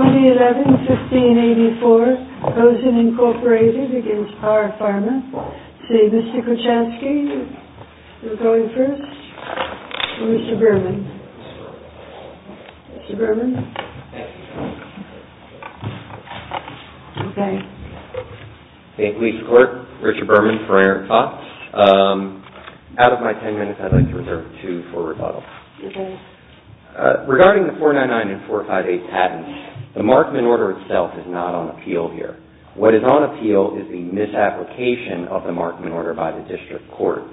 2011-15-84, BOZEN, Inc. v. PAR PHARMA Mr. Kuchansky, you're going first. Mr. Berman. Mr. Berman. Okay. Thank you, Mr. Clerk. Richard Berman for Aaron Fox. Out of my ten minutes, I'd like to reserve two for rebuttal. Regarding the 499 and 458 patents, the Markman Order itself is not on appeal here. What is on appeal is the misapplication of the Markman Order by the District Court.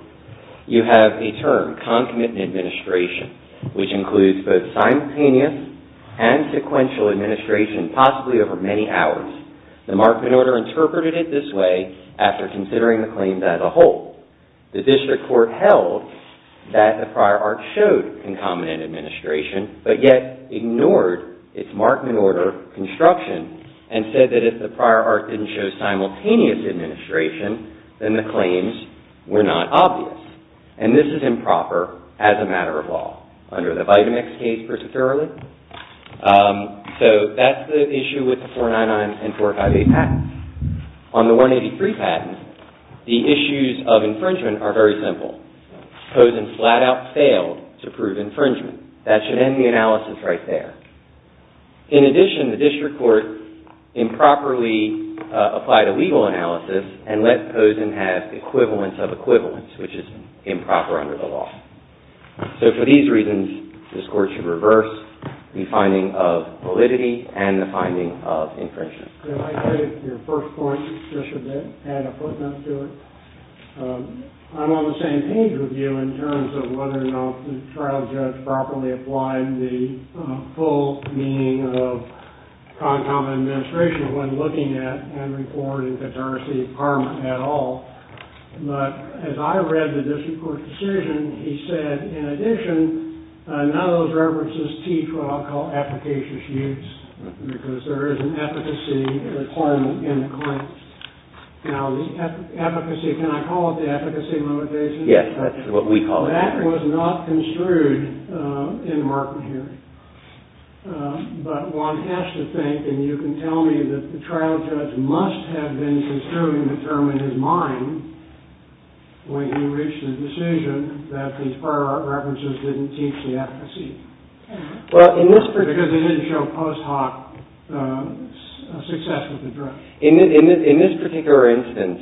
You have a term, concomitant administration, which includes both simultaneous and sequential administration, possibly over many hours. The Markman Order interpreted it this way after considering the claims as a whole. The District Court held that the prior art showed concomitant administration, but yet ignored its Markman Order construction and said that if the prior art didn't show simultaneous administration, then the claims were not obvious. This is improper as a matter of law, under the Vitamix case particularly. That's the issue with the 499 and 458 patents. On the 183 patents, the issues of infringement are very simple. Pozen flat out failed to prove infringement. That should end the analysis right there. In addition, the District Court improperly applied a legal analysis and let Pozen have equivalence of equivalence, which is improper under the law. So for these reasons, this Court should reverse the finding of validity and the finding of infringement. Could I take your first point just a bit, add a footnote to it? I'm on the same page with you in terms of whether or not the trial judge properly applied the full meaning of concomitant administration when looking at Henry Ford and Katarsi at all. But as I read the District Court decision, he said, in addition, none of those references teach what I'll call efficacious use, because there is an efficacy requirement in the claim. Now, the efficacy, can I call it the efficacy motivation? Yes, that's what we call it. That was not construed in Martin Henry. But one has to think, and you can tell me that the trial judge must have been construing the term in his mind when he reached the decision that these prior references didn't teach the efficacy. Because they didn't show post hoc success with the drug. In this particular instance,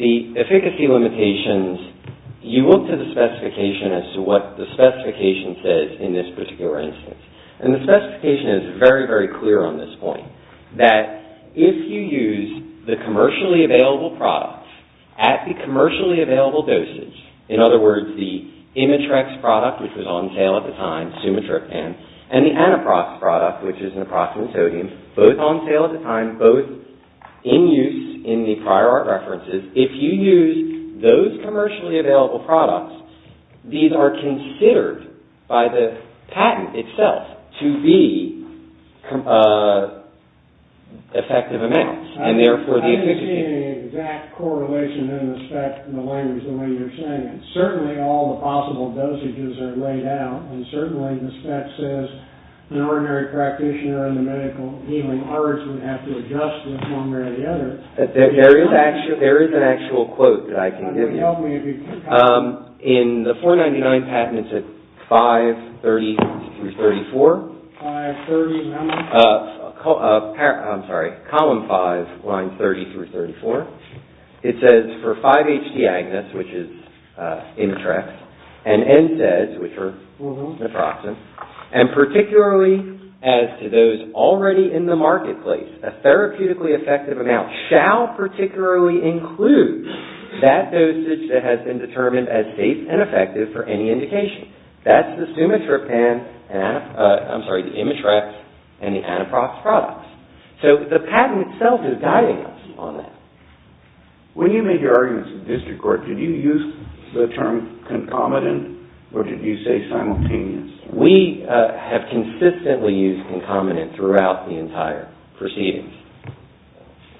the efficacy limitations, you look to the specification as to what the specification says in this particular instance. And the specification is very, very clear on this point, that if you use the commercially available product at the commercially available doses, in other words, the Imitrex product, which was on sale at the time, Sumatriptan, and the Anaprox product, which is naproxen sodium, both on sale at the time, both in use in the prior art references, if you use those commercially available products, these are considered by the patent itself to be effective amounts. I didn't see any exact correlation in the spec in the language the way you're saying it. Certainly all the possible dosages are laid out, and certainly the spec says the ordinary practitioner in the medical healing arts would have to adjust with one or the other. There is an actual quote that I can give you. Help me. In the 499 patent, it's at 530 through 34. 530, remember? I'm sorry. Column 5, lines 30 through 34. It says for 5-H-D-Agnus, which is Imitrex, and NSAIDs, which are naproxen, and particularly as to those already in the marketplace, a therapeutically effective amount shall particularly include that dosage that has been determined as safe and effective for any indication. That's the Sumatrapan, I'm sorry, the Imitrex and the Anaprox products. So the patent itself is guiding us on that. When you made your arguments in district court, did you use the term concomitant or did you say simultaneous? We have consistently used concomitant throughout the entire proceedings.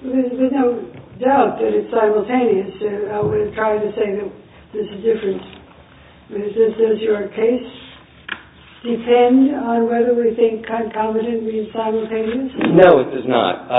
There's no doubt that it's simultaneous. I would try to say that there's a difference. Does your case depend on whether we think concomitant means simultaneous? No, it does not.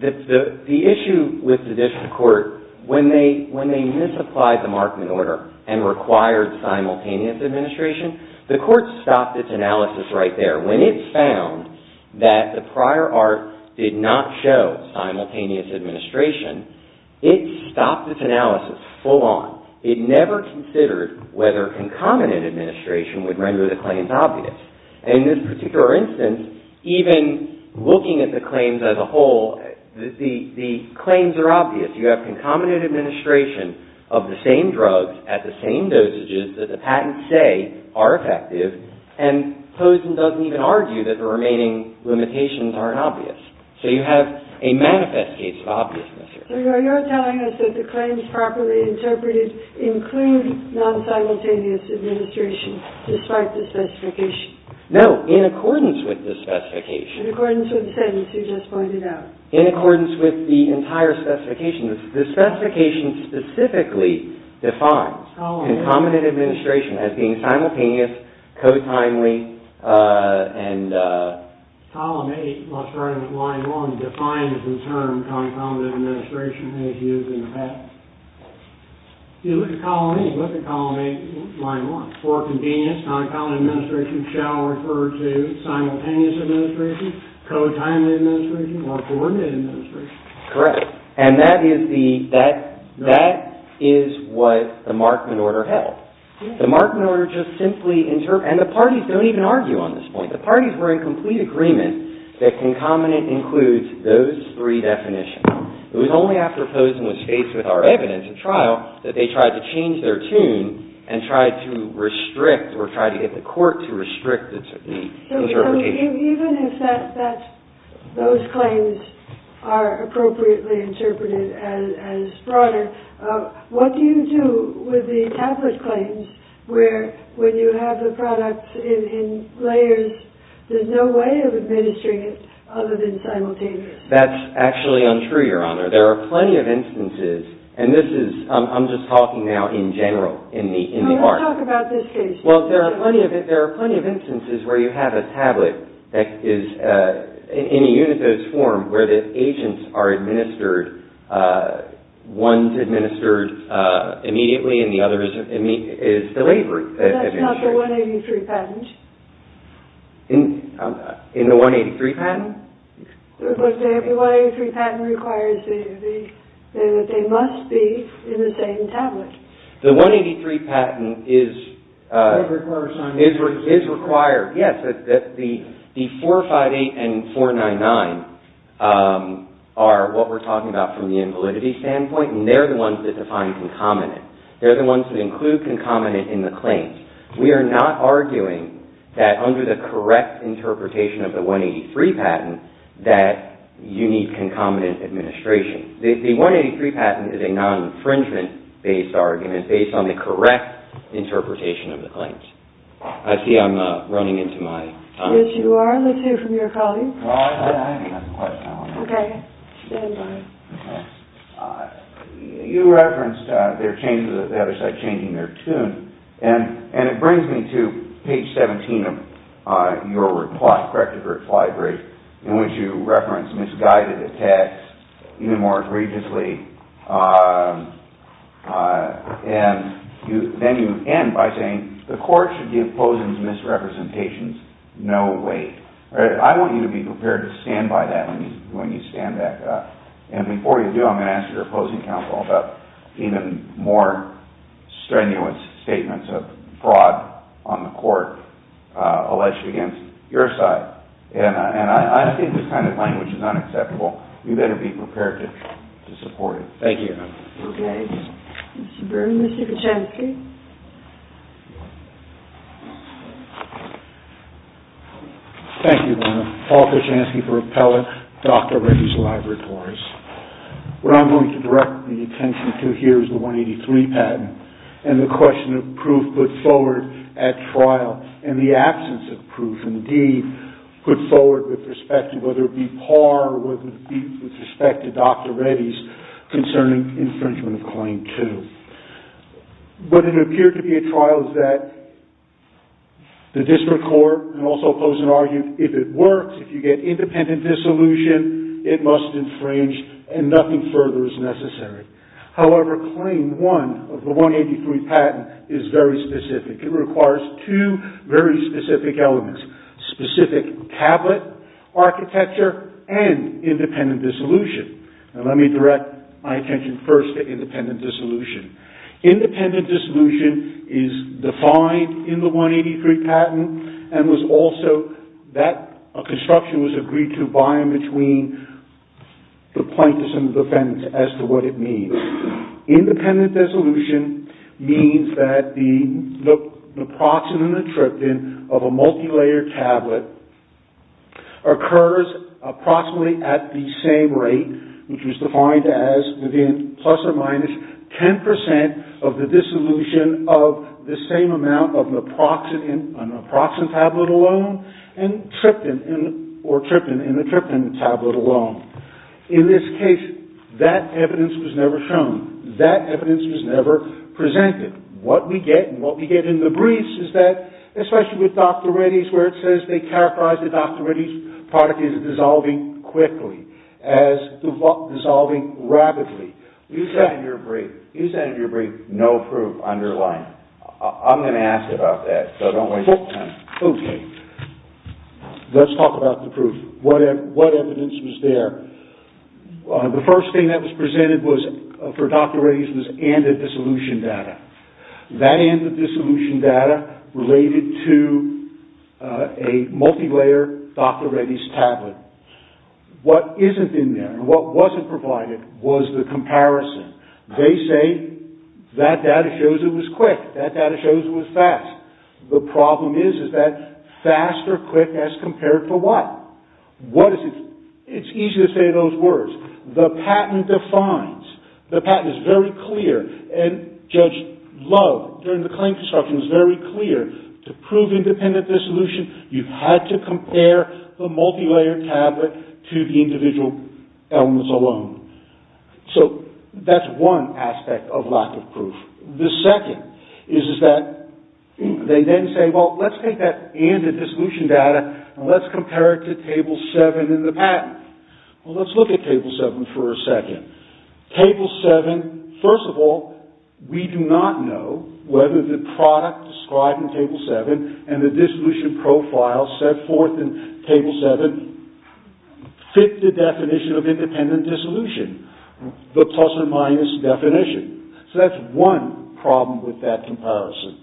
The issue with the district court, when they misapplied the Markman order and required simultaneous administration, the court stopped its analysis right there. When it found that the prior art did not show simultaneous administration, it stopped its analysis full on. It never considered whether concomitant administration would render the claims obvious. And in this particular instance, even looking at the claims as a whole, the claims are obvious. You have concomitant administration of the same drugs at the same dosages that the patents say are effective, and Pozen doesn't even argue that the remaining limitations aren't obvious. So you have a manifest case of obviousness. So you're telling us that the claims properly interpreted include non-simultaneous administration despite the specification? No, in accordance with the specification. In accordance with the sentence you just pointed out? In accordance with the entire specification. The specification specifically defines concomitant administration as being simultaneous, co-timely, and... Column 8, let's write it as line 1, defines the term concomitant administration as used in the patent. If you look at column 8, look at column 8, line 1. For convenience, concomitant administration shall refer to simultaneous administration, co-timely administration, or coordinated administration. Correct. And that is what the Markman order held. The Markman order just simply... And the parties don't even argue on this point. The parties were in complete agreement that concomitant includes those three definitions. It was only after Pozen was faced with our evidence at trial that they tried to change their tune and tried to restrict or tried to get the court to restrict the interpretation. So even if those claims are appropriately interpreted as fraud, what do you do with the tablet claims where when you have the product in layers, there's no way of administering it other than simultaneous? That's actually untrue, Your Honor. There are plenty of instances, and this is... I'm just talking now in general, in the art. Well, let's talk about this case. Well, there are plenty of instances where you have a tablet that is in a uniform where the agents are administered. One's administered immediately, and the other is delivered. But that's not the 183 patent. In the 183 patent? The 183 patent requires that they must be in the same tablet. The 183 patent is... It requires simultaneous. It is required, yes, that the 458 and 499 are what we're talking about from the invalidity standpoint, and they're the ones that define concomitant. They're the ones that include concomitant in the claims. We are not arguing that under the correct interpretation of the 183 patent that you need concomitant administration. The 183 patent is a non-infringement-based argument based on the correct interpretation of the claims. I see I'm running into my time. Yes, you are. Let's hear from your colleagues. Well, I have a question. Okay. Stand by. Okay. You referenced there are changes at the other side, changing their tune, and it brings me to page 17 of your report, corrective reply brief, in which you reference misguided attacks even more egregiously, and then you end by saying the court should give posings misrepresentations. No way. I want you to be prepared to stand by that when you stand back up, and before you do, I'm going to ask your opposing counsel about even more strenuous statements of fraud on the court alleged against your side, and I think this kind of language is unacceptable. You better be prepared to support it. Thank you. Mr. Byrne, Mr. Kuchansky. Thank you, Donna. Paul Kuchansky for Appellate, Dr. Reddy's Laboratories. What I'm going to direct the attention to here is the 183 patent and the question of proof put forward at trial, and the absence of proof indeed put forward with respect to whether it be par with respect to Dr. Reddy's concerning infringement of Claim 2. But it appeared to be a trial that the district court, and also oppose and argue, if it works, if you get independent dissolution, it must infringe, and nothing further is necessary. However, Claim 1 of the 183 patent is very specific. It requires two very specific elements, specific tablet architecture and independent dissolution. Now let me direct my attention first to independent dissolution. Independent dissolution is defined in the 183 patent and was also that a construction was agreed to by and between the plaintiffs and the defendants as to what it means. Independent dissolution means that the naproxen and the tryptin of a multilayered tablet occurs approximately at the same rate, which was defined as within plus or minus 10% of the dissolution of the same amount of naproxen in a naproxen tablet alone and tryptin in a tryptin tablet alone. In this case, that evidence was never shown. That evidence was never presented. What we get and what we get in the briefs is that, especially with Dr. Reddy's, where it says they characterize the Dr. Reddy's product as dissolving quickly, as dissolving rapidly. You said in your brief, you said in your brief, no proof underlying. I'm going to ask about that, so don't waste time. Okay. Let's talk about the proof. What evidence was there? The first thing that was presented for Dr. Reddy's was ANDA dissolution data. That ANDA dissolution data related to a multilayered Dr. Reddy's tablet. What isn't in there and what wasn't provided was the comparison. They say that data shows it was quick. That data shows it was fast. The problem is, is that fast or quick as compared to what? It's easy to say those words. The patent defines. The patent is very clear and Judge Love, during the claim construction, was very clear to prove independent dissolution, you had to compare the multilayered tablet to the individual elements alone. That's one aspect of lack of proof. The second is that they then say, well, let's take that ANDA dissolution data and let's compare it to Table 7 in the patent. Well, let's look at Table 7 for a second. Table 7, first of all, we do not know whether the product described in Table 7 and the dissolution profile set forth in Table 7 fit the definition of independent dissolution, the plus or minus definition. So that's one problem with that comparison.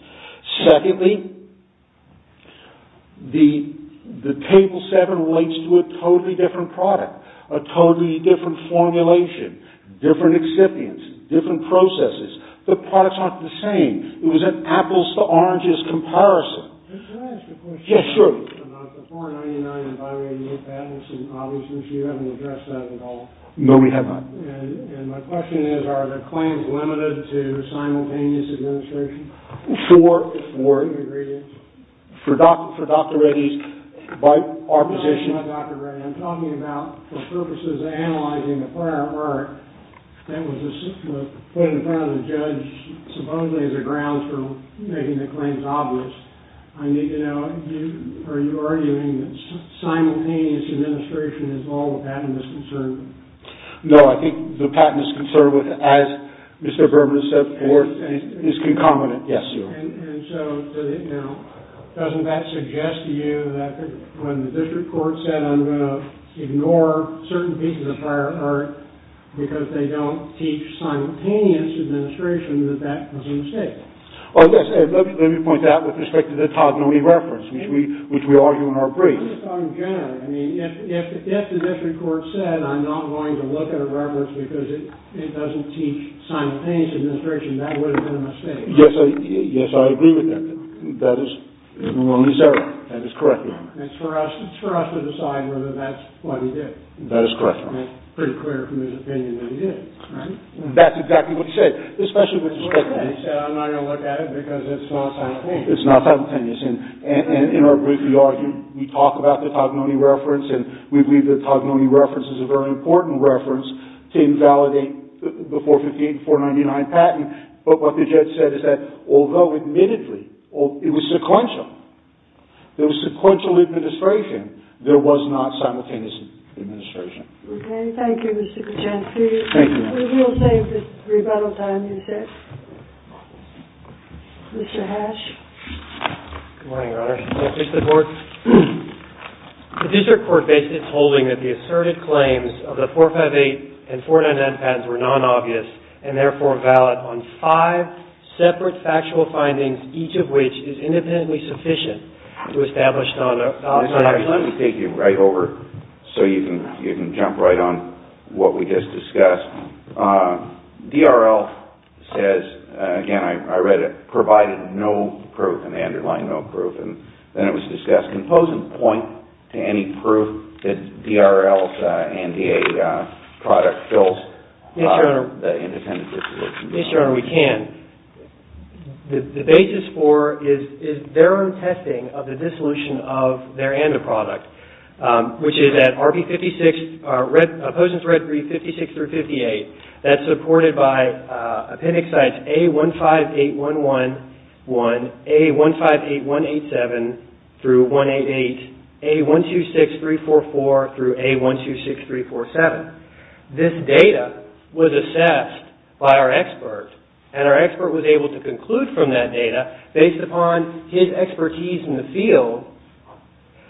Secondly, the Table 7 relates to a totally different product, a totally different formulation, different excipients, different processes. The products aren't the same. It was an apples to oranges comparison. Can I ask a question? Yes, sure. About the 499 and bi-radiated patents, and obviously you haven't addressed that at all. No, we have not. And my question is, are the claims limited to simultaneous administration? Sure. Agreed. For Dr. Reddy's position. I'm not Dr. Reddy. I'm talking about the purposes of analyzing the prior art that was put in front of the judge, supposedly as a ground for making the claims obvious. I need to know, are you arguing that simultaneous administration is all the patent is concerned with? No, I think the patent is concerned with, as Mr. Berman has said before, is concomitant. Yes, sir. And so doesn't that suggest to you that when the district court said I'm going to ignore certain pieces of prior art because they don't teach simultaneous administration, that that was a mistake? Let me point that out with respect to the Tadnonee reference, which we argue in our brief. If the district court said I'm not going to look at a reference because it doesn't teach simultaneous administration, that would have been a mistake. Yes, I agree with that. That is correct, Your Honor. It's for us to decide whether that's what he did. That is correct, Your Honor. Pretty clear from his opinion that he did. That's exactly what he said, especially with respect to the He said I'm not going to look at it because it's not simultaneous. It's not simultaneous. In our brief, we argue, we talk about the Tadnonee reference, and we believe the Tadnonee reference is a very important reference to invalidate the 458 and 499 patent. But what the judge said is that although, admittedly, it was sequential, there was sequential administration, there was not simultaneous administration. Okay, thank you, Mr. Kachansky. Thank you, Your Honor. We will save this rebuttal time, you said. Mr. Hash. Good morning, Your Honor. Mr. Bork. The district court basis is holding that the asserted claims of the 458 and 499 patents were non-obvious and, therefore, valid on five separate factual findings, each of which is independently sufficient to establish non-obvious. Mr. Hash, let me take you right over so you can jump right on what we just discussed. DRL says, again, I read it, provided no proof, and they underline no proof, and then it was discussed. Can Pozen point to any proof that DRL's NDA product fills the independent dissolution? Yes, Your Honor, we can. The basis for is their own testing of the dissolution of their NDA product, which is at RP56, Pozen's red brief 56358, that's supported by appendix A158111, A158187 through 188, A126344 through A126347. This data was assessed by our expert, and our expert was able to conclude from that data, based upon his expertise in the field,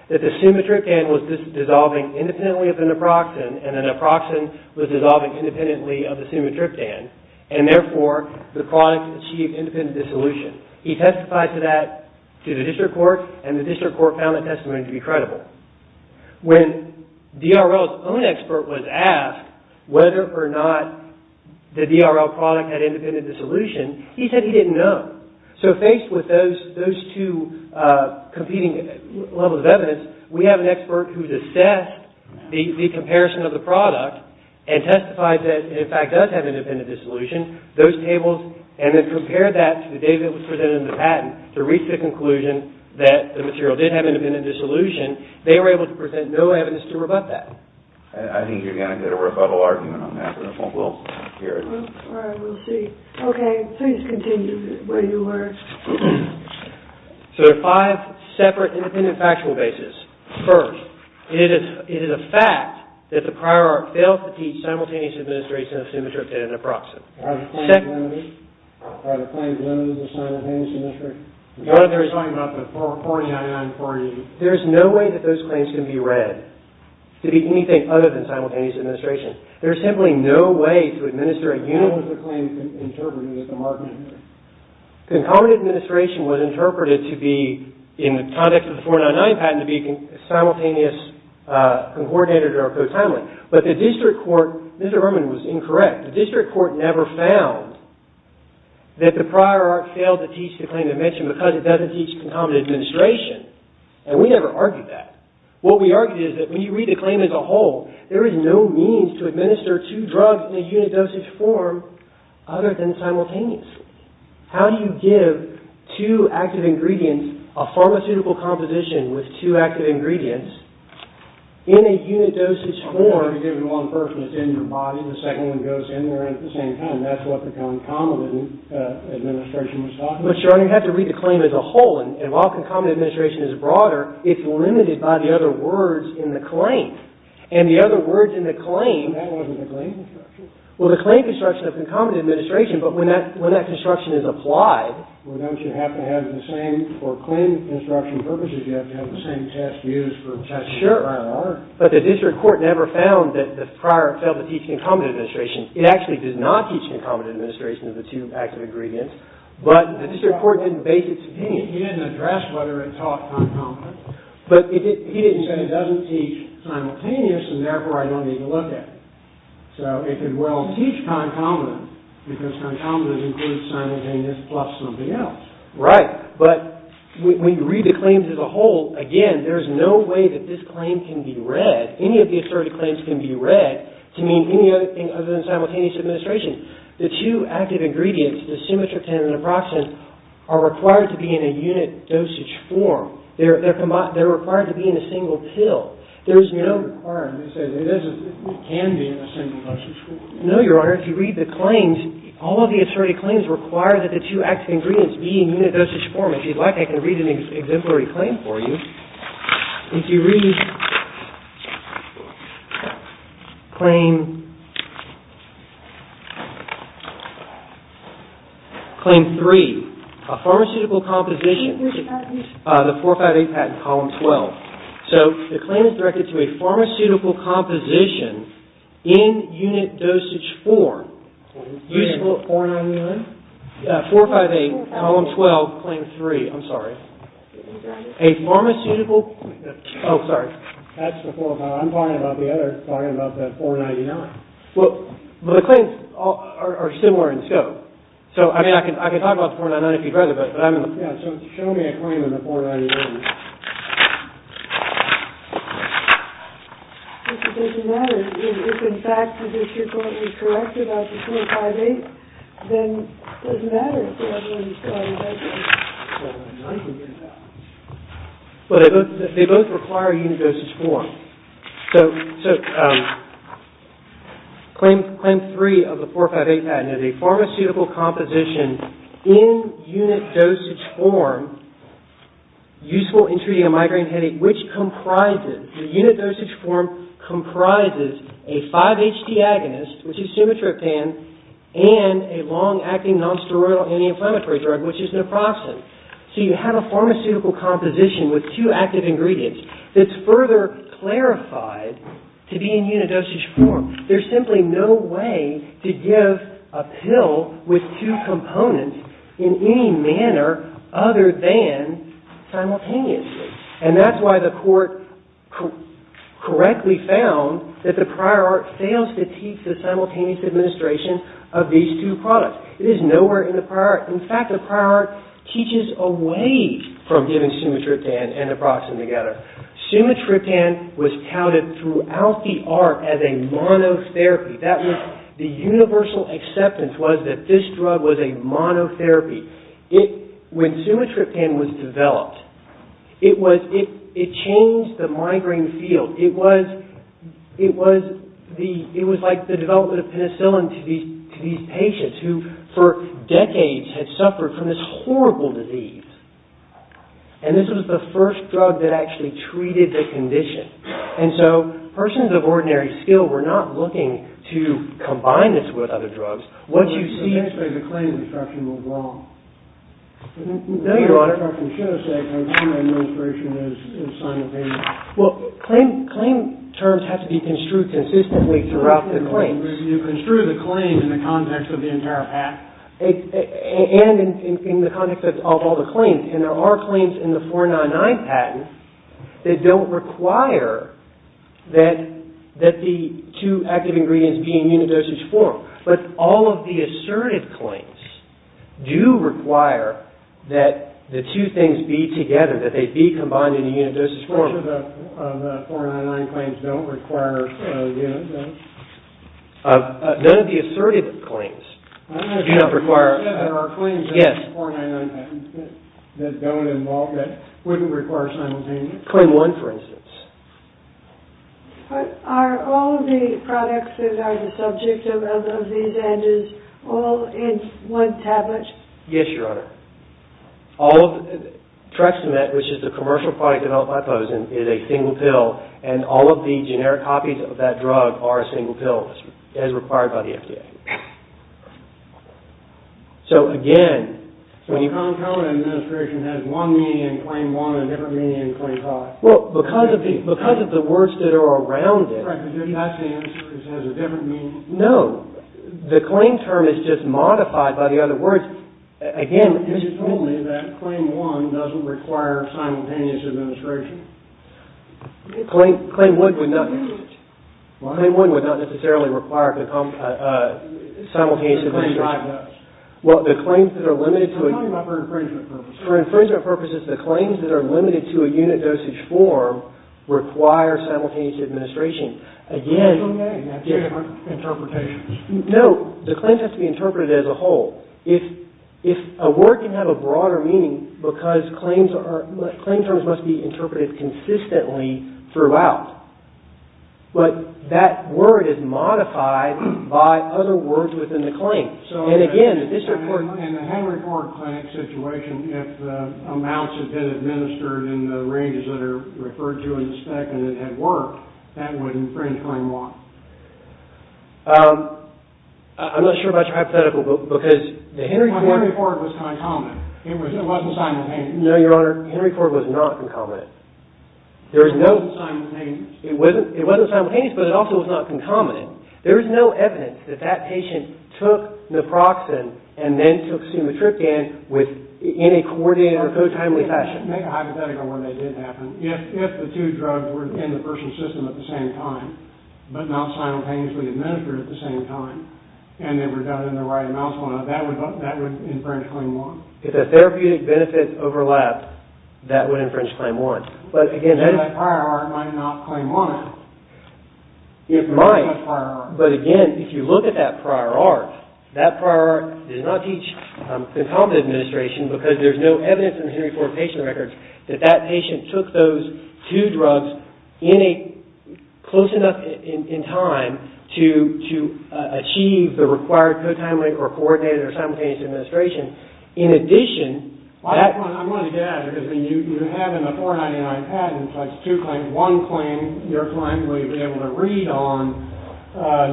that the sumatriptan was dissolving independently of the naproxen, and the naproxen was dissolving independently of the sumatriptan, and, therefore, the product achieved independent dissolution. He testified to that to the district court, and the district court found the testimony to be credible. When DRL's own expert was asked whether or not the DRL product had independent dissolution, he said he didn't know. So, faced with those two competing levels of evidence, we have an expert who's assessed the comparison of the product and testified that it, in fact, does have independent dissolution, those tables, and then compared that to the data that was presented in the patent to reach the conclusion that the material did have independent dissolution, they were able to present no evidence to rebut that. I think you're going to get a rebuttal argument on that, and I won't be able to hear it. All right, we'll see. Okay, please continue where you were. So, there are five separate independent factual bases. First, it is a fact that the prior art failed to teach simultaneous administration of sumatriptan and naproxen. Are the claims limited to simultaneous administration? You're talking about the 499-480. There's no way that those claims can be read to be anything other than simultaneous administration. There's simply no way to administer a uniform claim interpreted as a marginal. Concomitant administration was interpreted to be, in the context of the 499 patent, to be simultaneous, coordinated, or co-timely. But the district court, Mr. Berman was incorrect, the district court never found that the prior art failed to teach the claim to mention because it doesn't teach concomitant administration, and we never argued that. What we argued is that when you read the claim as a whole, there is no means to administer two drugs in a unit dosage form other than simultaneously. How do you give two active ingredients, a pharmaceutical composition with two active ingredients, in a unit dosage form? I'm not going to give you all the first one. It's in your body. The second one goes in there at the same time. That's what the concomitant administration was talking about. But, Your Honor, you have to read the claim as a whole, and while concomitant administration is broader, it's limited by the other words in the claim, and the other words in the claim... But that wasn't the claim construction. Well, the claim construction of concomitant administration, but when that construction is applied... Well, don't you have to have the same, for claim construction purposes, you have to have the same test used for testing the prior art. Sure. But the district court never found that the prior failed to teach concomitant administration. It actually did not teach concomitant administration of the two active ingredients, but the district court didn't base its opinion. He didn't address whether it taught concomitant. But he didn't say it doesn't teach simultaneous, and therefore I don't need to look at it. So it could well teach concomitant, because concomitant includes simultaneous plus something else. Right. But when you read the claims as a whole, again, there's no way that this claim can be read, any of the asserted claims can be read, to mean any other thing other than simultaneous administration. The two active ingredients, the simitritin and the naproxen, are required to be in a unit dosage form. They're required to be in a single pill. There's no requirement. It can be in a single dosage form. No, Your Honor. If you read the claims, all of the asserted claims require that the two active ingredients be in unit dosage form. If you'd like, I can read an exemplary claim for you. If you read claim three, a pharmaceutical composition, the 458 patent, column 12. So the claim is directed to a pharmaceutical composition in unit dosage form. You said 491? 458, column 12, claim three. I'm sorry. A pharmaceutical... Oh, sorry. That's the 458. I'm talking about the other, talking about the 499. Well, the claims are similar in scope. So, I mean, I can talk about the 491 if you'd rather, but I'm going to... Yeah, so show me a claim on the 491. It doesn't matter. If, in fact, the issue point was corrected by the 458, then it doesn't matter if the other one is 458. 491 can be in that one. But they both require unit dosage form. So, claim three of the 458 patent, a pharmaceutical composition in unit dosage form, useful in treating a migraine headache, which comprises, the unit dosage form comprises a 5-H diagonist, which is Sumatropan, and a long-acting nonsteroidal anti-inflammatory drug, which is naproxen. So you have a pharmaceutical composition with two active ingredients that's further clarified to be in unit dosage form. There's simply no way to give a pill with two components in any manner other than simultaneously. And that's why the court correctly found that the prior art fails to teach the simultaneous administration of these two products. It is nowhere in the prior art. In fact, the prior art teaches away from giving Sumatropan and naproxen together. Sumatropan was touted throughout the art as a monotherapy. That was the universal acceptance was that this drug was a monotherapy. When Sumatropan was developed, it changed the migraine field. It was like the development of penicillin to these patients who, for decades, had suffered from this horrible disease. And this was the first drug that actually treated the condition. And so persons of ordinary skill were not looking to combine this with other drugs. What you see... The claim construction was wrong. No, Your Honor. I assume administration is simultaneous. Well, claim terms have to be construed consistently throughout the claims. You construe the claim in the context of the entire patent. And in the context of all the claims. And there are claims in the 499 patent that don't require that the two active ingredients be in unidosage form. But all of the assertive claims do require that the two things be together, that they be combined in a unidosage form. Which of the 499 claims don't require unidosage? None of the assertive claims do not require... There are claims in the 499 patent that don't involve... that wouldn't require simultaneous... Claim 1, for instance. But are all of the products that are the subject of these answers all in one tablet? Yes, Your Honor. All of... Trexamet, which is the commercial product developed by Pozen, is a single pill. And all of the generic copies of that drug are a single pill, as required by the FDA. So, again... So, the non-competitive administration has one meaning in Claim 1 and a different meaning in Claim 5. Well, because of the words that are around it... Correct. That's the answer. It has a different meaning. No. The claim term is just modified by the other words. Again... You told me that Claim 1 doesn't require simultaneous administration. Claim 1 would not... Claim 1 would not necessarily require simultaneous administration. Claim 5 does. Well, the claims that are limited to... I'm talking about for infringement purposes. For infringement purposes, the claims that are limited to a unit dosage form require simultaneous administration. Again... That's okay. You have different interpretations. No. The claims have to be interpreted as a whole. If a word can have a broader meaning because claim terms must be interpreted consistently throughout. But that word is modified by other words within the claim. In the Henry Ford Clinic situation, if amounts had been administered in the ranges that are referred to in the spec and it had worked, that would infringe Claim 1. I'm not sure about your hypothetical, because the Henry Ford... Henry Ford was concomitant. It wasn't simultaneous. No, Your Honor. Henry Ford was not concomitant. It wasn't simultaneous. It wasn't simultaneous, but it also was not concomitant. There is no evidence that that patient took naproxen and then took sumatriptan in a coordinated or co-timely fashion. Make a hypothetical where they did happen. If the two drugs were in the personal system at the same time, but not simultaneously administered at the same time, and they were done in the right amounts, that would infringe Claim 1. If the therapeutic benefits overlap, that would infringe Claim 1. But again, that is... That prior art might not Claim 1. It might. But again, if you look at that prior art, that prior art does not teach concomitant administration, because there's no evidence in the Henry Ford patient records that that patient took those two drugs in a... close enough in time to achieve the required co-timely or coordinated or simultaneous administration. In addition... I want to get at it, because you have in the 499 patent Claim 2, one claim, your client will be able to read on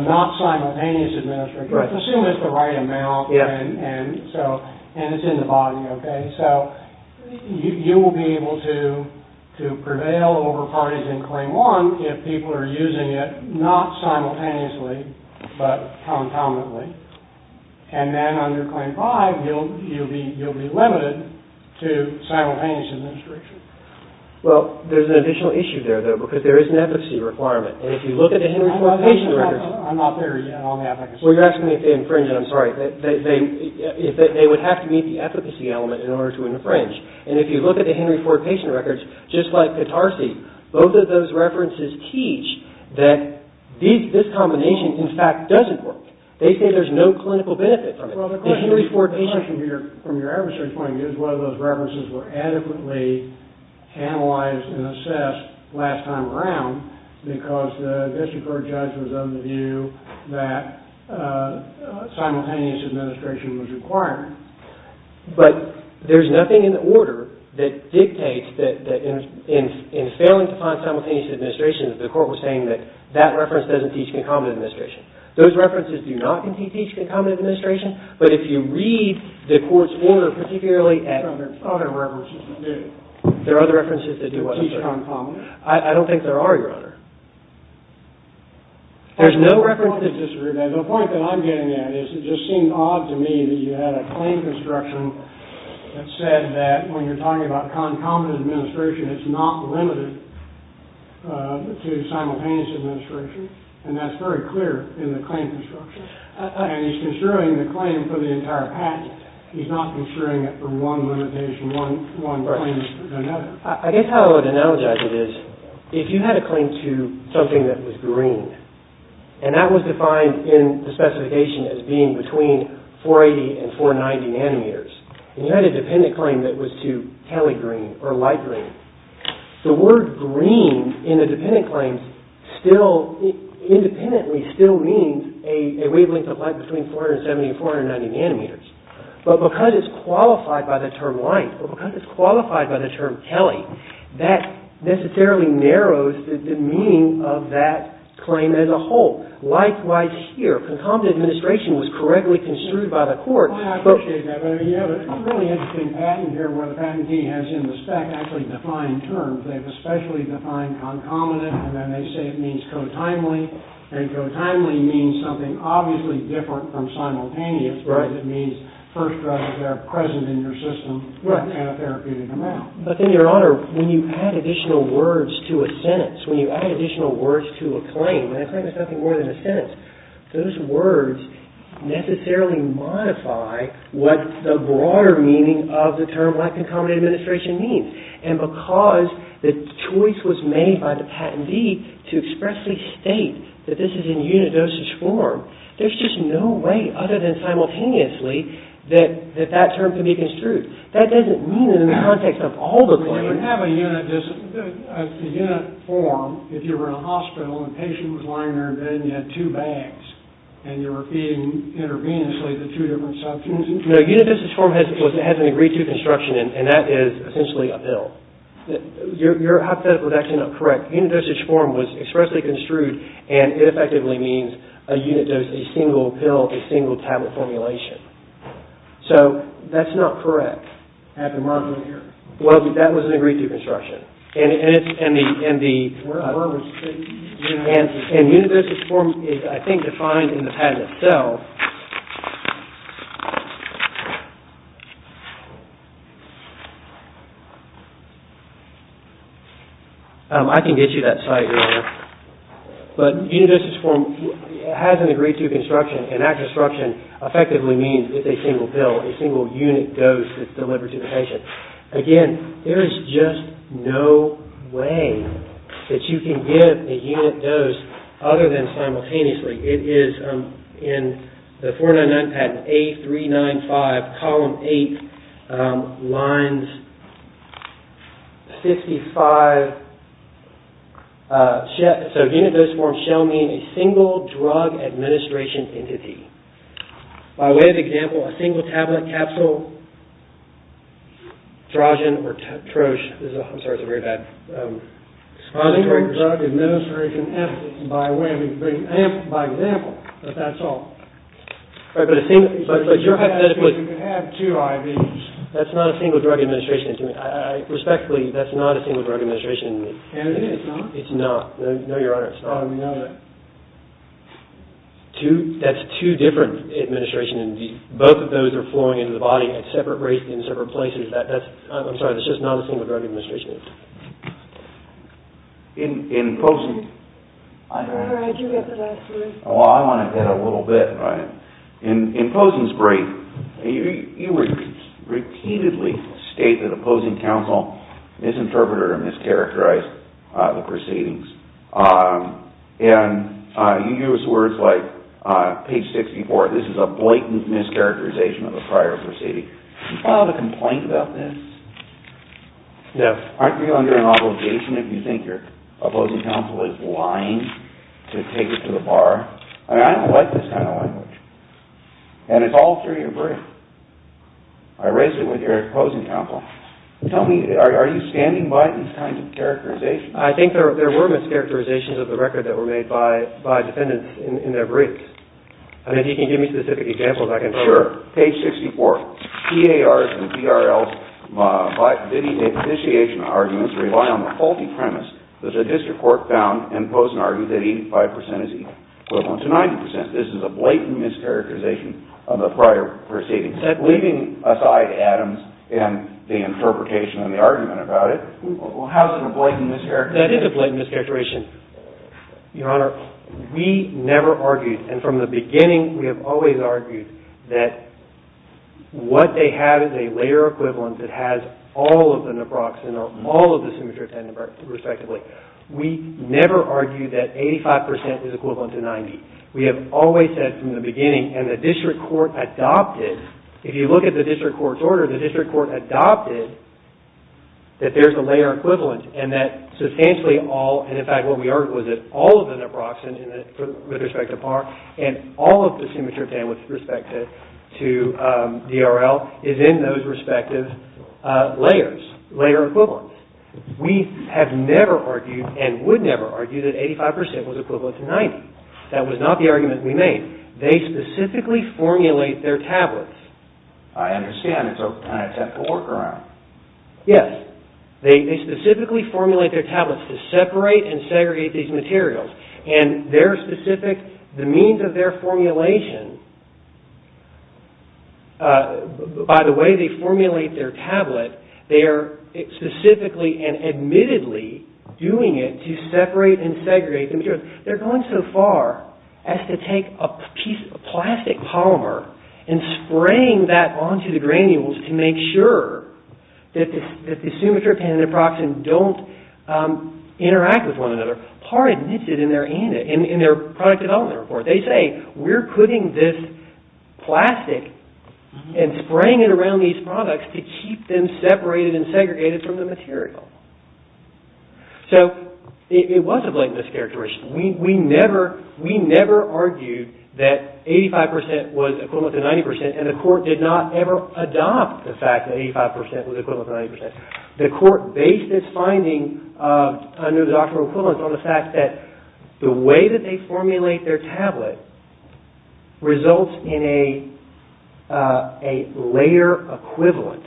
not simultaneous administration, but assume it's the right amount, and so... And it's in the body, okay? So, you will be able to prevail over parties in Claim 1 if people are using it not simultaneously, but concomitantly. And then under Claim 5, you'll be limited to simultaneous administration. Well, there's an additional issue there, though, because there is an efficacy requirement. And if you look at the Henry Ford patient records... I'm not there yet. I'll have... Well, you're asking me if they infringe, and I'm sorry. They would have to meet the efficacy element in order to infringe. And if you look at the Henry Ford patient records, just like the Tarsy, both of those references teach that this combination, in fact, doesn't work. They say there's no clinical benefit from it. The Henry Ford patient... Well, the question, from your adversary's point of view, is whether those references were adequately analyzed and assessed last time around, because the district court judge was of the view that simultaneous administration was required. But there's nothing in the order that dictates that in failing to find simultaneous administration, the court was saying that that reference doesn't teach concomitant administration. Those references do not teach concomitant administration, but if you read the court's order, particularly at... There are other references that do. There are other references that do what I'm saying. Teach concomitant. I don't think there are, Your Honor. There's no reference... The point that I'm getting at is it just seemed odd to me that you had a claim construction that said that when you're talking about concomitant administration, it's not limited to simultaneous administration, and that's very clear in the claim construction. And he's construing the claim for the entire patent. He's not construing it for one limitation, one claim to another. I guess how I would analogize it is if you had a claim to something that was green, and that was defined in the specification as being between 480 and 490 nanometers, and you had a dependent claim that was to tally green or light green, the word green in the dependent claims still independently still means a wavelength of light between 470 and 490 nanometers, but because it's qualified by the term light or because it's qualified by the term tally, that necessarily narrows the meaning of that claim as a whole. Likewise here. Concomitant administration was correctly construed by the court. I appreciate that, but you have a really interesting patent here where the patentee has in the spec actually defined terms. They've especially defined concomitant, and then they say it means co-timely, and co-timely means something obviously different from simultaneous because it means first drugs that are present in your system have therapy in the mouth. But then your honor, when you add additional words to a sentence, when you add additional words to a claim, when a claim is nothing more than a sentence, those words necessarily modify what the broader meaning of the term black concomitant administration means, and because the choice was made by the patentee to expressly state that this is in unit dosage form, there's just no way other than simultaneously that that term can be construed. That doesn't mean in the context of all the claims. But you would have a unit form if you were in a hospital and a patient was lying in their bed and you had two bags, and you were feeding intravenously the two different substances. No, unit dosage form has an agreed-to construction, and that is essentially a pill. Your hypothetical is actually not correct. Unit dosage form was expressly construed, and it effectively means a unit dose, a single pill, a single tablet formulation. So that's not correct. Well, that was an agreed-to construction. And unit dosage form is, I think, defined in the patent itself. I can get you that site later. But unit dosage form has an agreed-to construction, and that construction effectively means it's a single pill, a single unit dose that's delivered to the patient. Again, there is just no way that you can give a unit dose other than simultaneously. It is in the 499 patent, A395, column 8, lines 55. So unit dosage form shall mean a single drug administration entity. By way of example, a single tablet capsule drogen or troche. I'm sorry, it's a very bad... A single drug administration entity. By way of example. But that's all. But you're hypothetically... You can have two IVs. That's not a single drug administration entity. Respectfully, that's not a single drug administration entity. And it is not? It's not. No, Your Honor, it's not. How do we know that? That's two different administration entities. Both of those are embodied at separate rates in separate places. That's... I'm sorry, that's just not a single drug administration entity. In Posen... Your Honor, I do get the last word. Oh, I wanted that a little bit. In Posen's brief, you repeatedly state that opposing counsel misinterpreted or mischaracterized the proceedings. And you use words like page 64, this is a blatant mischaracterization of a prior proceeding. Do you file a complaint about this? No. Aren't you under an obligation if you think your opposing counsel is lying to take it to the bar? I mean, I don't like this kind of language. And it's all through your brief. I raised it with your opposing counsel. Tell me, are you standing by these kinds of characterizations? I think there were mischaracterizations of the record that were made by defendants in their briefs. I mean, if you can give me specific examples, I can tell you. Sure. Page 64. PARs and PRLs by bidding and initiation arguments rely on the faulty premise that the district court found in Posen argued that 85% is equal, equivalent to 90%. This is a blatant mischaracterization of a prior proceeding. Leaving aside Adams and the interpretation and the argument about it, how is it a blatant mischaracterization? That is a blatant mischaracterization. Your Honor, we never argued, and from the beginning we have always argued, that what they have is a layer equivalent that has all of the naproxen or all of the simitriptan respectively. We never argued that 85% is equivalent to 90%. We have always said from the beginning and the district court adopted, if you look at the district court's order, the district court adopted that there's a layer equivalent and that substantially all, and in fact what we argued was that all of the naproxen with respect to PAR and all of the simitriptan with respect to DRL is in those respective layers, layer equivalents. We have never argued and would never argue that 85% was equivalent to 90%. That was not the argument we made. They specifically formulate their tablets. I understand. It's a technical workaround. Yes. They specifically formulate their tablets to separate and segregate these materials and their specific, the means of their formulation, by the way they formulate their tablet, they are specifically and admittedly doing it to separate and segregate the materials. They're going so far as to take a piece, a plastic polymer and spraying that onto the granules to make sure that the simitriptan and naproxen don't interact with one another. PAR admits it in their product development report. They say, we're putting this plastic and spraying it around these products to keep them separated and segregated from the material. So, it was a blatant mischaracterization. We never, we never argued that 85% was equivalent to 90% and the court did not ever adopt the fact that 85% was equivalent to 90%. The court based this finding under the doctrine of equivalence on the fact that the way that they formulate their tablet results in a layer equivalent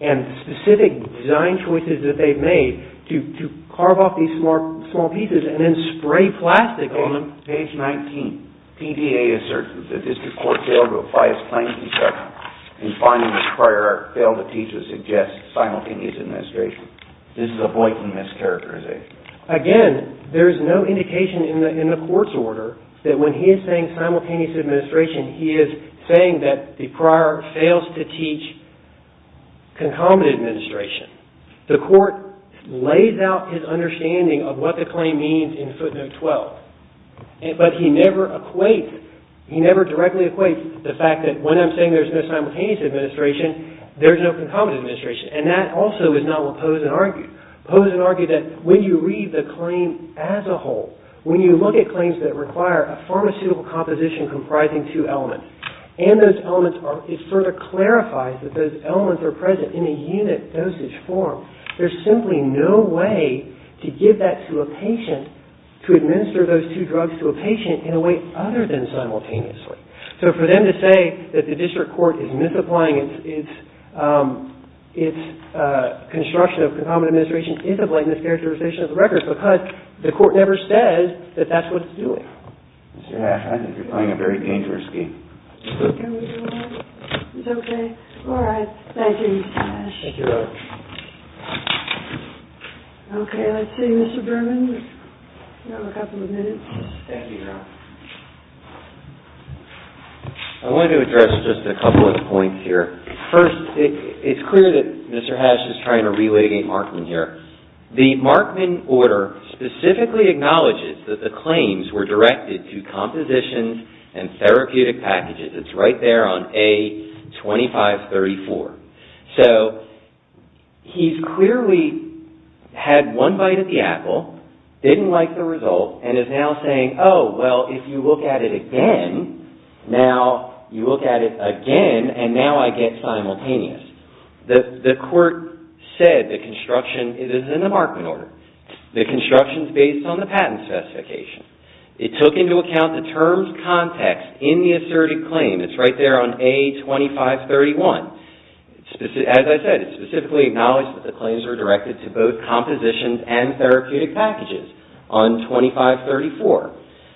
and specific design choices that they've made to carve off these small pieces and then spray plastic on them. Page 19. PDA asserts that this court failed to apply its claims in section in finding that prior art failed to teach or suggest simultaneous administration. This is a blatant mischaracterization. Again, there's no indication in the court's order that when he is saying simultaneous administration, he is saying that the prior fails to teach concomitant administration. The court lays out his understanding of what the claim means in footnote 12. But he never equates, he never directly equates the fact that when I'm saying there's no simultaneous administration, there's no concomitant administration. And that also is not what Pose and argued. Pose and argued that when you read the claim as a whole, when you look at claims that require a pharmaceutical composition comprising two elements, and those elements are, it sort of clarifies that those elements are present in a unit dosage form. There's simply no way to give that to a patient to administer those two drugs to a patient in a way other than simultaneously. So for them to say that the district court is misapplying its construction of concomitant administration is a blatant mischaracterization of the record because the court never says that that's what it's doing. Mr. Hash, I think you're playing a very dangerous game. Can we do that? It's okay. All right. Thank you, Mr. Hash. Thank you very much. Okay. Let's see. Mr. Berman, you have a couple of minutes. Thank you, Your Honor. I wanted to address just a couple of points here. First, it's clear that Mr. Hash is trying to relitigate Markman here. The Markman order specifically acknowledges that the claims were directed to compositions and therapeutic packages. It's right there on A2534. So he's clearly had one bite at the apple, didn't like the result, and is now saying, oh, well, if you look at it again, now you look at it again, and now I get simultaneous. The court said the construction is in the Markman order. The construction is based on the patent specification. It took into account the terms context in the asserted claim. It's right there on A2531. As I said, it specifically acknowledged that the claims were directed to both compositions and therapeutic packages on 2534.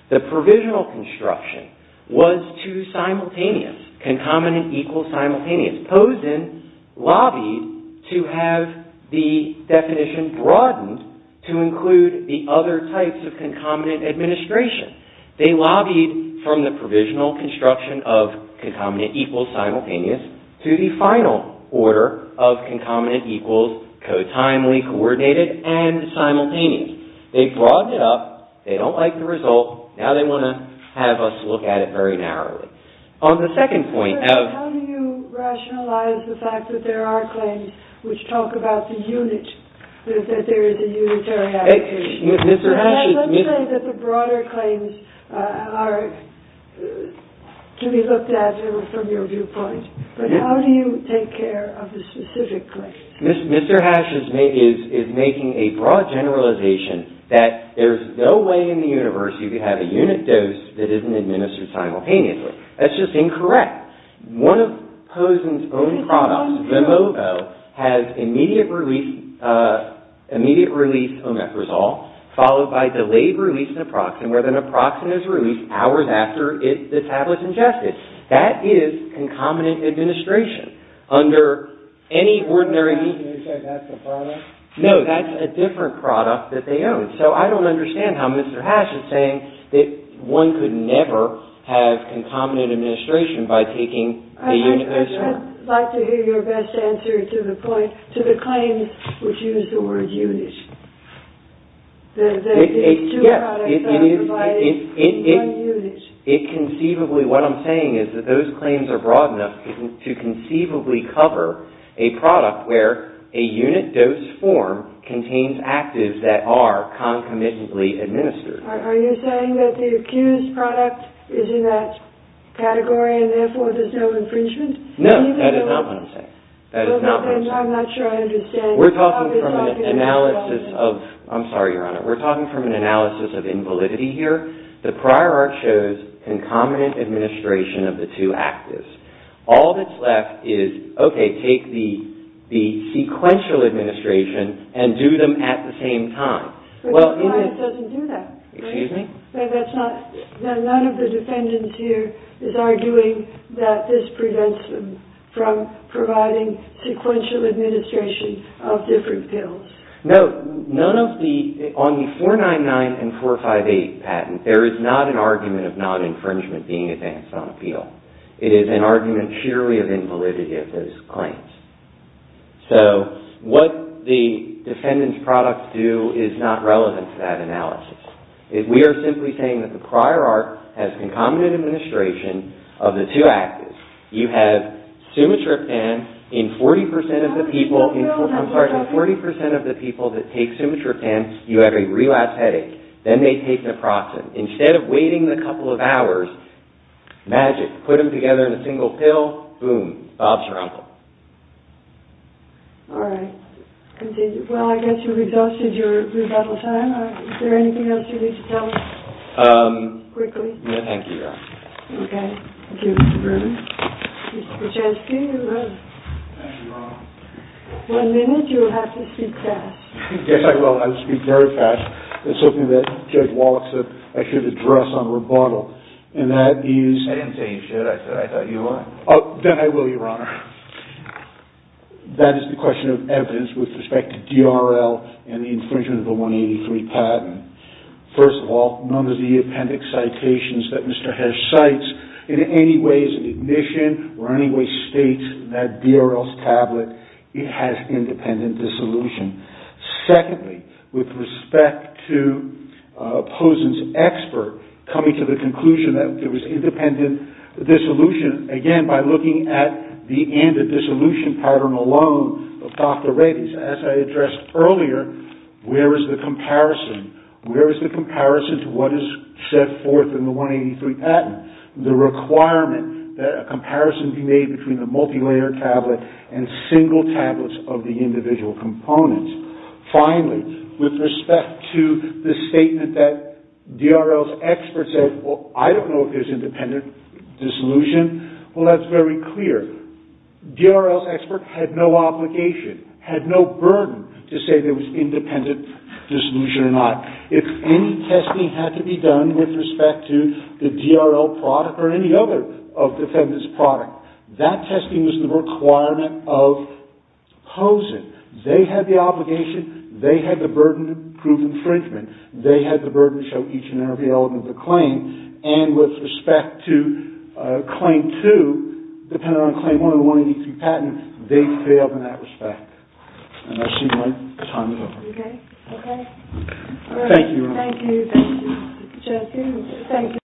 The provisional construction was too simultaneous, concomitant, equal, simultaneous, posed in, lobbied to have the definition be broadened to include the other types of concomitant administration. They lobbied from the provisional construction of concomitant, equal, simultaneous, to the final order of concomitant, equal, co-timely, coordinated, and simultaneous. They broadened it up. They don't like the result. Now they want to have us look at it very narrowly. On the second point, how do you rationalize the fact that there are claims which talk about the unit, that there is a unitary application? Let's say that the broader claims are to be looked at from your viewpoint, but how do you take care of the specific claims? Mr. Hash is making a broad generalization that there's no way in the universe you could have a unit dose that isn't administered simultaneously. That's just incorrect. One of Pozen's own products, the MOVO, has immediate release omeprazole, followed by delayed release naproxen, where the naproxen is released hours after this tablet's ingested. That is concomitant administration. Under any ordinary... Can you say that's a product? No, that's a different product that they own. So I don't understand how Mr. Hash is saying that one could never have concomitant administration by taking a unit dose. I'd like to hear your best answer to the point, to the claim which used the word unit. The two products provided in one unit. It conceivably... What I'm saying is that those claims are broad enough to conceivably cover a product where a unit dose form contains actives that are concomitantly administered. Are you saying that the accused product is in that category and therefore there's no infringement? No, that is not what I'm saying. That is not what I'm saying. I'm not sure I understand. We're talking from an analysis of... I'm sorry, Your Honor. We're talking from an analysis of invalidity here. The prior art shows concomitant administration of the two actives. All that's left is okay, take the sequential administration and do them at the same time. But the client doesn't do that. Excuse me? None of the defendants here is arguing that this prevents them from providing sequential administration of different pills. No, none of the... On the 499 and 458 patent, there is not an argument of non-infringement being advanced on appeal. It is an argument sheerly of invalidity of those claims. So, what the defendant's products do is not relevant to that analysis. We are simply saying that the prior art has concomitant administration of the two actives. You have sumatriptan in 40% of the people in... I'm sorry, in 40% of the people that take sumatriptan, you have a relapse headache. Then they take naproxen. Instead of waiting a couple of hours, magic. Put them together in a single pill. Boom. Bob's your uncle. All right. Well, I guess you've exhausted your rebuttal time. Is there anything else you need to tell us? Quickly? No, thank you, Your Honor. Okay. Thank you, Mr. Vernon. Mr. Krzyzewski, you're up. Thank you, Your Honor. One minute. You'll have to speak fast. Yes, I will. I will speak very fast. There's something that Judge Wallach said I should address on rebuttal. And that is... I didn't say you should. I said I thought you would. Oh, then I will, Your Honor. That is the question of evidence with respect to DRL and the infringement of the 183 patent. First of all, none of the appendix citations that Mr. Hesh cites in any way is an ignition or in any way states that DRL's tablet has independent dissolution. Secondly, with respect to Posen's expert coming to the conclusion that there was independent dissolution, again, by looking at the end of dissolution pattern alone of Dr. Radice, as I addressed earlier, where is the comparison? Where is the comparison to what is set forth in the 183 patent? The requirement that a comparison be made between the multilayered tablet and single tablets of the individual components. Finally, with respect to the statement that DRL's expert said, well, I don't know if there's independent dissolution. Well, that's very clear. DRL's expert had no obligation, had no burden, to say there was independent dissolution or not. If any testing had to be done with respect to the DRL product or any other of defendant's product, that testing was the requirement of Posen. They had the obligation, they had the burden to prove infringement, they had the burden to show each and every element of the claim, and with respect to Claim 2, depending on Claim 1 and 183 patent, they failed in that respect. And I see my time is over. Okay. Okay. Thank you. Thank you. Thank you. Thank you.